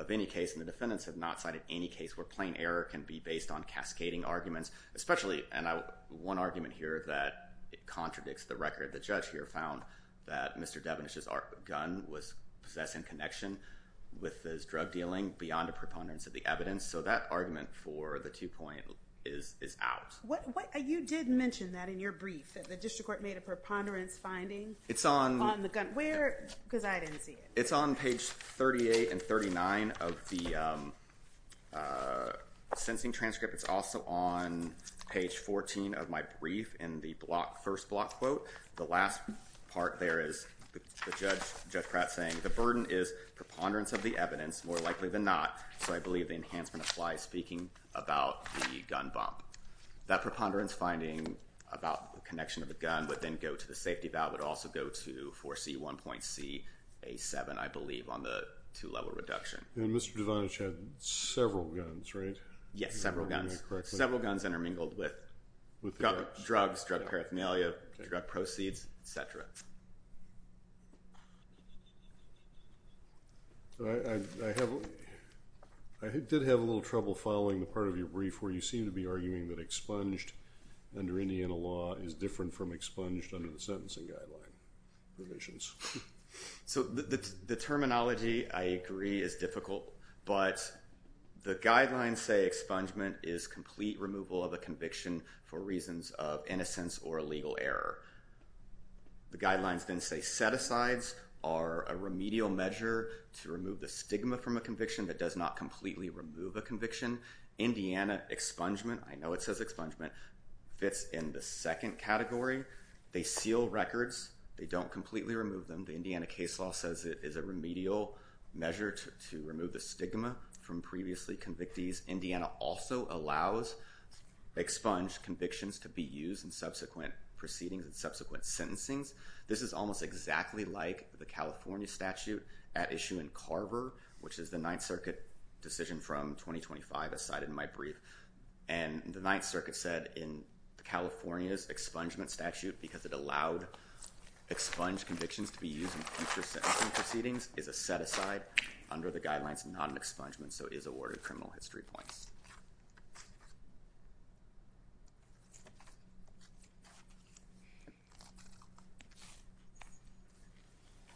of any case, and the defendants have not cited any case where plain error can be based on cascading arguments, especially, and one argument here that contradicts the record. The judge here found that Mr. Devenish's gun was possessed in connection with his drug dealing beyond a preponderance of the evidence, so that argument for the two point is out. You did mention that in your brief, that the district court made a preponderance finding on the gun. Where? Because I didn't see it. It's on Page 38 and 39 of the sensing transcript. It's also on Page 14 of my brief in the first block quote. The last part there is the judge saying, the burden is preponderance of the evidence, more likely than not, so I believe the enhancement applies speaking about the gun bump. That preponderance finding about the connection of the gun would then go to the safety valve. It would also go to 4C1.CA7, I believe, on the two level reduction. And Mr. Devenish had several guns, right? Yes, several guns. Several guns intermingled with drugs, drug paraphernalia, drug proceeds, et cetera. I did have a little trouble following the part of your brief where you seem to be arguing that expunged under Indiana law is different from expunged under the sentencing guideline provisions. So the terminology, I agree, is difficult, but the guidelines say expungement is complete removal of a conviction for reasons of innocence or illegal error. The guidelines then say set-asides are a remedial measure to remove the stigma from a conviction that does not completely remove a conviction. Indiana expungement, I know it says expungement, fits in the second category. They seal records. They don't completely remove them. The Indiana case law says it is a remedial measure to remove the stigma from previously convictees. Indiana also allows expunged convictions to be used in subsequent proceedings and subsequent sentencings. This is almost exactly like the California statute at issue in Carver, which is the Ninth Circuit decision from 2025, as cited in my brief. And the Ninth Circuit said in California's expungement statute, because it allowed expunged convictions to be used in future sentencing proceedings, is a set-aside. Under the guidelines, not an expungement, so it is awarded criminal history points.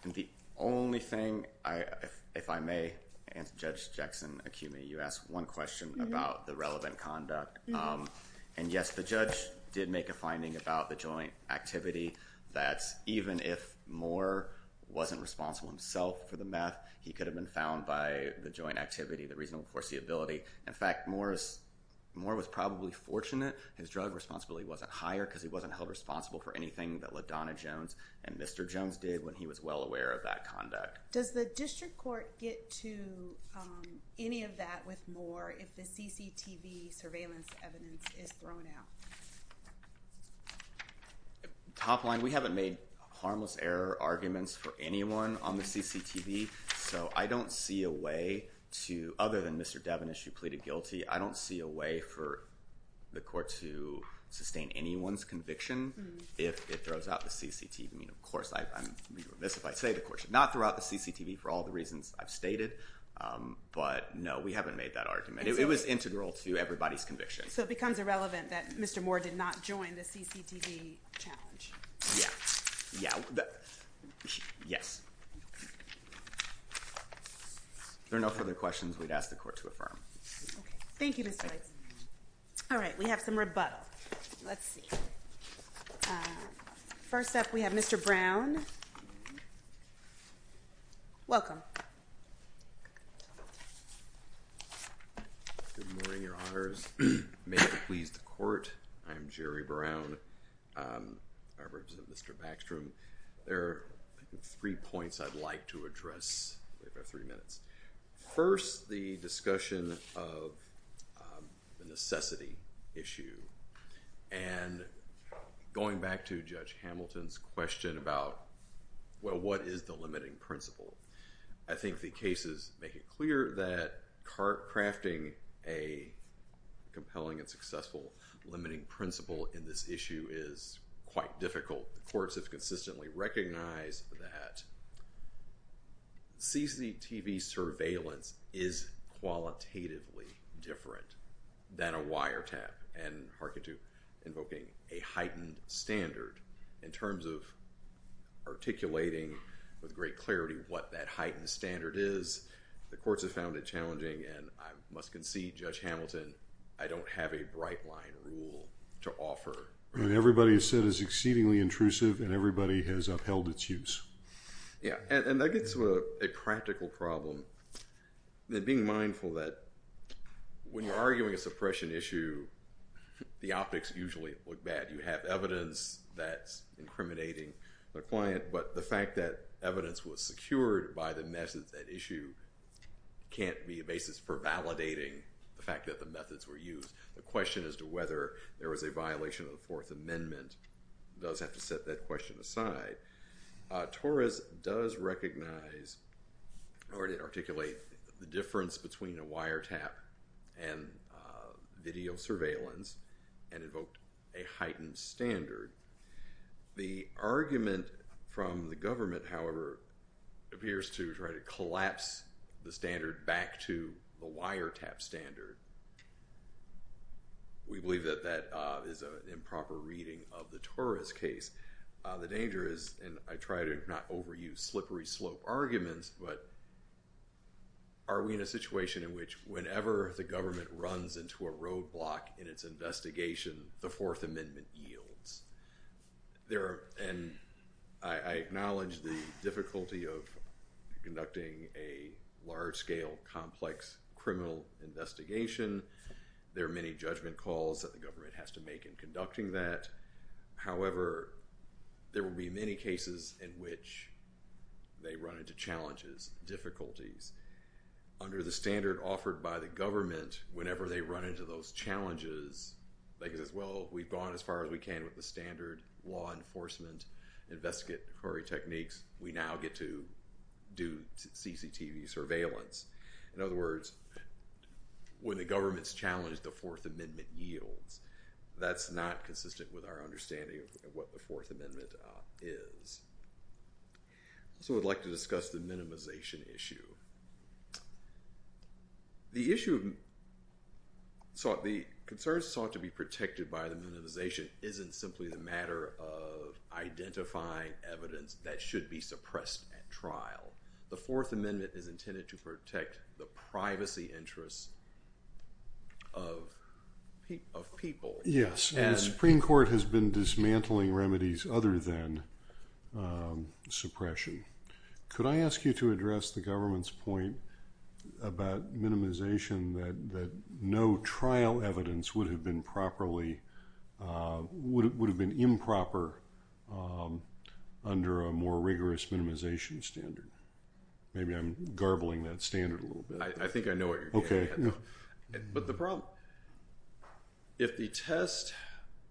And the only thing, if I may, Judge Jackson, accuse me, you asked one question about the relevant conduct. And yes, the judge did make a finding about the joint activity that even if Moore wasn't responsible himself for the meth, he could have been found by the joint activity, the reasonable foreseeability. In fact, Moore was probably fortunate his drug responsibility wasn't higher because he wasn't held responsible for anything that LaDonna Jones and Mr. Jones did when he was well aware of that conduct. Does the district court get to any of that with Moore if the CCTV surveillance evidence is thrown out? Top line, we haven't made harmless error arguments for anyone on the CCTV, so I don't see a way to, other than Mr. Devin, as you pleaded guilty, I don't see a way for the court to sustain anyone's conviction if it throws out the CCTV. I mean, of course, I'm remiss if I say the court should not throw out the CCTV for all the reasons I've stated, but no, we haven't made that argument. It was integral to everybody's conviction. So it becomes irrelevant that Mr. Moore did not join the CCTV challenge? Yes. If there are no further questions, we'd ask the court to affirm. Thank you, Mr. Leitz. All right, we have some rebuttal. Let's see. First up, we have Mr. Brown. Welcome. Good morning, Your Honors. May it please the court. I'm Jerry Brown. I represent Mr. Backstrom. There are three points I'd like to address. We've got three minutes. First, the discussion of the necessity issue, and going back to Judge Hamilton's question about, well, what is the limiting principle? I think the cases make it clear that crafting a compelling and successful limiting principle in this issue is quite difficult. The courts have consistently recognized that CCTV surveillance is qualitatively different than a wiretap, and harken to invoking a heightened standard. In terms of articulating with great clarity what that heightened standard is, the courts have found it challenging, and I must concede, Judge Hamilton, I don't have a bright line rule to offer. And everybody has said it's exceedingly intrusive, and everybody has upheld its use. Yeah, and that gets to a practical problem. And being mindful that when you're arguing a suppression issue, the optics usually look bad. You have evidence that's incriminating the client, but the fact that evidence was secured by the method at issue can't be a basis for validating the fact that the methods were used. The question as to whether there was a violation of the Fourth Amendment does have to set that question aside. Torres does recognize or articulate the difference between a wiretap and video surveillance and invoked a heightened standard. The argument from the government, however, appears to try to collapse the standard back to the wiretap standard. We believe that that is an improper reading of the Torres case. The danger is, and I try to not overuse slippery slope arguments, but are we in a situation in which whenever the government runs into a roadblock in its investigation, the Fourth Amendment yields? And I acknowledge the difficulty of conducting a large-scale complex criminal investigation. There are many judgment calls that the government has to make in conducting that. However, there will be many cases in which they run into challenges, difficulties. Under the standard offered by the government, whenever they run into those challenges, they can say, well, we've gone as far as we can with the standard law enforcement investigative techniques. We now get to do CCTV surveillance. In other words, when the government's challenged, the Fourth Amendment yields. That's not consistent with our understanding of what the Fourth Amendment is. So I'd like to discuss the minimization issue. The issue of the concerns sought to be protected by the minimization isn't simply the matter of identifying evidence that should be suppressed at trial. The Fourth Amendment is intended to protect the privacy interests of people. Yes, and the Supreme Court has been dismantling remedies other than suppression. Could I ask you to address the government's point about minimization that no trial evidence would have been improper under a more rigorous minimization standard? Maybe I'm garbling that standard a little bit. I think I know what you're getting at. But the problem, if the test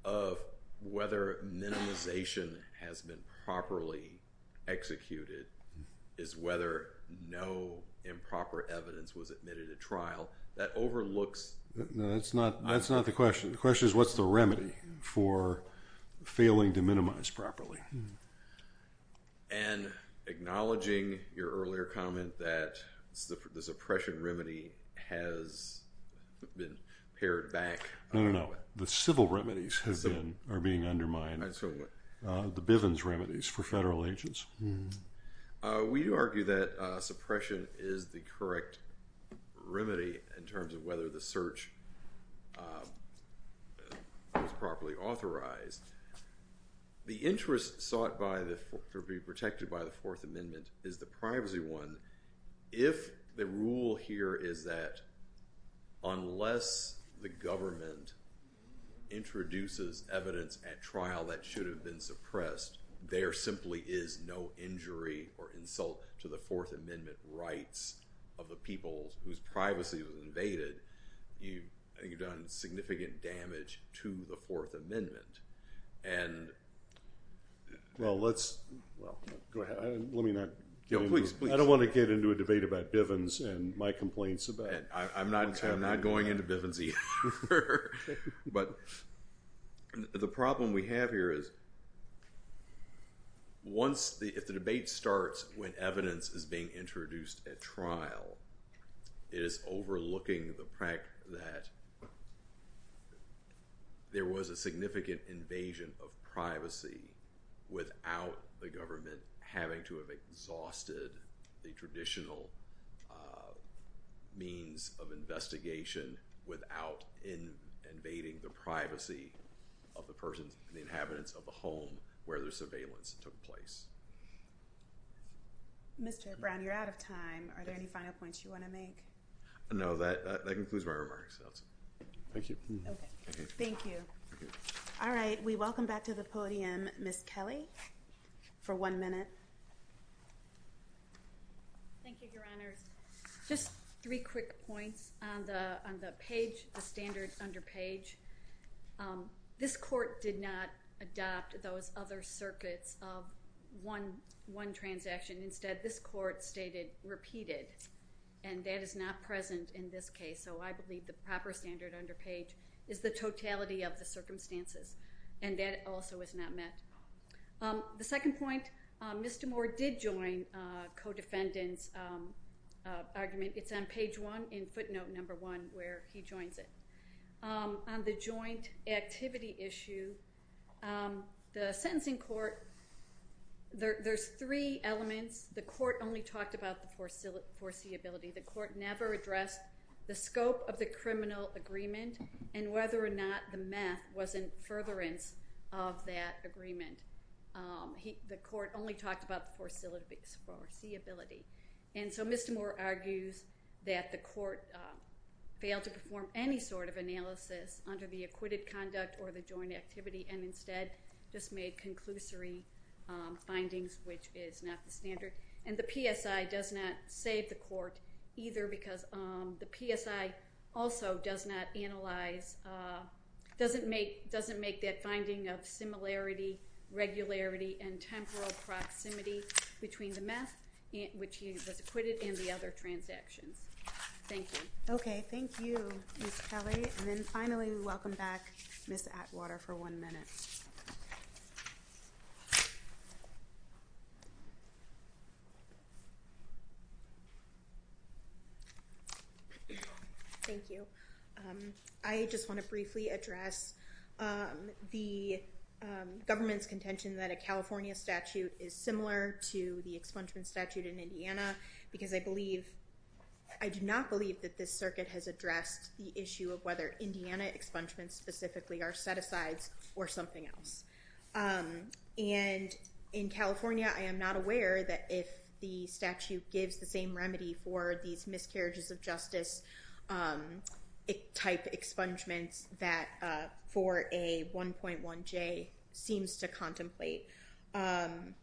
of whether minimization has been properly executed is whether no improper evidence was admitted at trial, that overlooks... No, that's not the question. The question is, what's the remedy for failing to minimize properly? And acknowledging your earlier comment that the suppression remedy has been pared back... No, no, no. The civil remedies are being undermined. The Bivens remedies for federal agents. We argue that suppression is the correct remedy in terms of whether the search was properly authorized. The interest sought to be protected by the Fourth Amendment is the privacy one. If the rule here is that unless the government introduces evidence at trial that should have been suppressed, there simply is no injury or insult to the Fourth Amendment rights of the people whose privacy was invaded, you've done significant damage to the Fourth Amendment. Let me not get into... No, please, please. I don't want to get into a debate about Bivens and my complaints about... I'm not going into Bivens either. The problem we have here is if the debate starts when evidence is being introduced at trial, it is overlooking the fact that there was a significant invasion of privacy without the government having to have exhausted the traditional means of investigation without invading the privacy of the persons and the inhabitants of the home where the surveillance took place. Mr. Brown, you're out of time. Are there any final points you want to make? No, that concludes my remarks. Thank you. Thank you. All right. We welcome back to the podium Ms. Kelly for one minute. Thank you, Your Honor. Just three quick points on the page, the standard under page. This court did not adopt those other circuits of one transaction. Instead, this court stated repeated, and that is not present in this case. So I believe the proper standard under page is the totality of the circumstances, and that also is not met. The second point, Mr. Moore did join co-defendant's argument. It's on page one in footnote number one where he joins it. On the joint activity issue, the sentencing court... There's three elements. The court only talked about the foreseeability. The court never addressed the scope of the criminal agreement and whether or not the meth was in furtherance of that agreement. The court only talked about the foreseeability. And so Mr. Moore argues that the court failed to perform any sort of analysis under the acquitted conduct or the joint activity and instead just made conclusory findings, which is not the standard. And the PSI does not save the court either because the PSI also does not analyze, doesn't make that finding of similarity, regularity, and temporal proximity between the meth which was acquitted and the other transactions. Thank you. Okay, thank you, Ms. Kelly. And then finally, we welcome back Ms. Atwater for one minute. Thank you. I just want to briefly address the government's contention that a California statute is similar to the expungement statute in Indiana because I do not believe that this circuit has addressed the issue of whether Indiana expungements specifically are set-asides or something else. And in California, I am not aware that if the statute gives the same remedy for these miscarriages of justice type expungements that for a 1.1J seems to contemplate. And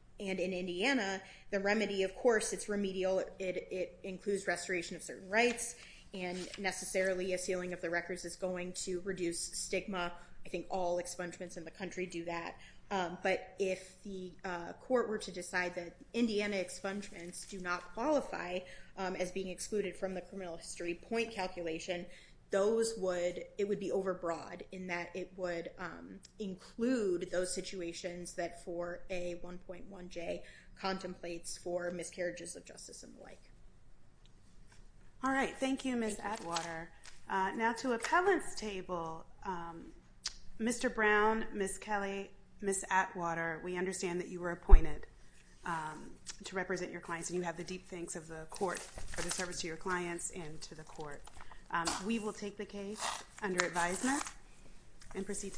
in Indiana, the remedy, of course, it's remedial. It includes restoration of certain rights and necessarily a sealing of the records is going to reduce stigma. I think all expungements in the country do that. But if the court were to decide that Indiana expungements do not qualify as being excluded from the criminal history point calculation, it would be overbroad in that it would include those situations that for a 1.1J contemplates for miscarriages of justice and the like. All right. Thank you, Ms. Atwater. Now to appellant's table, Mr. Brown, Ms. Kelly, Ms. Atwater, we understand that you were appointed to represent your clients and you have the deep thanks of the court for the service to your clients and to the court. We will take the case under advisement and proceed to the next one.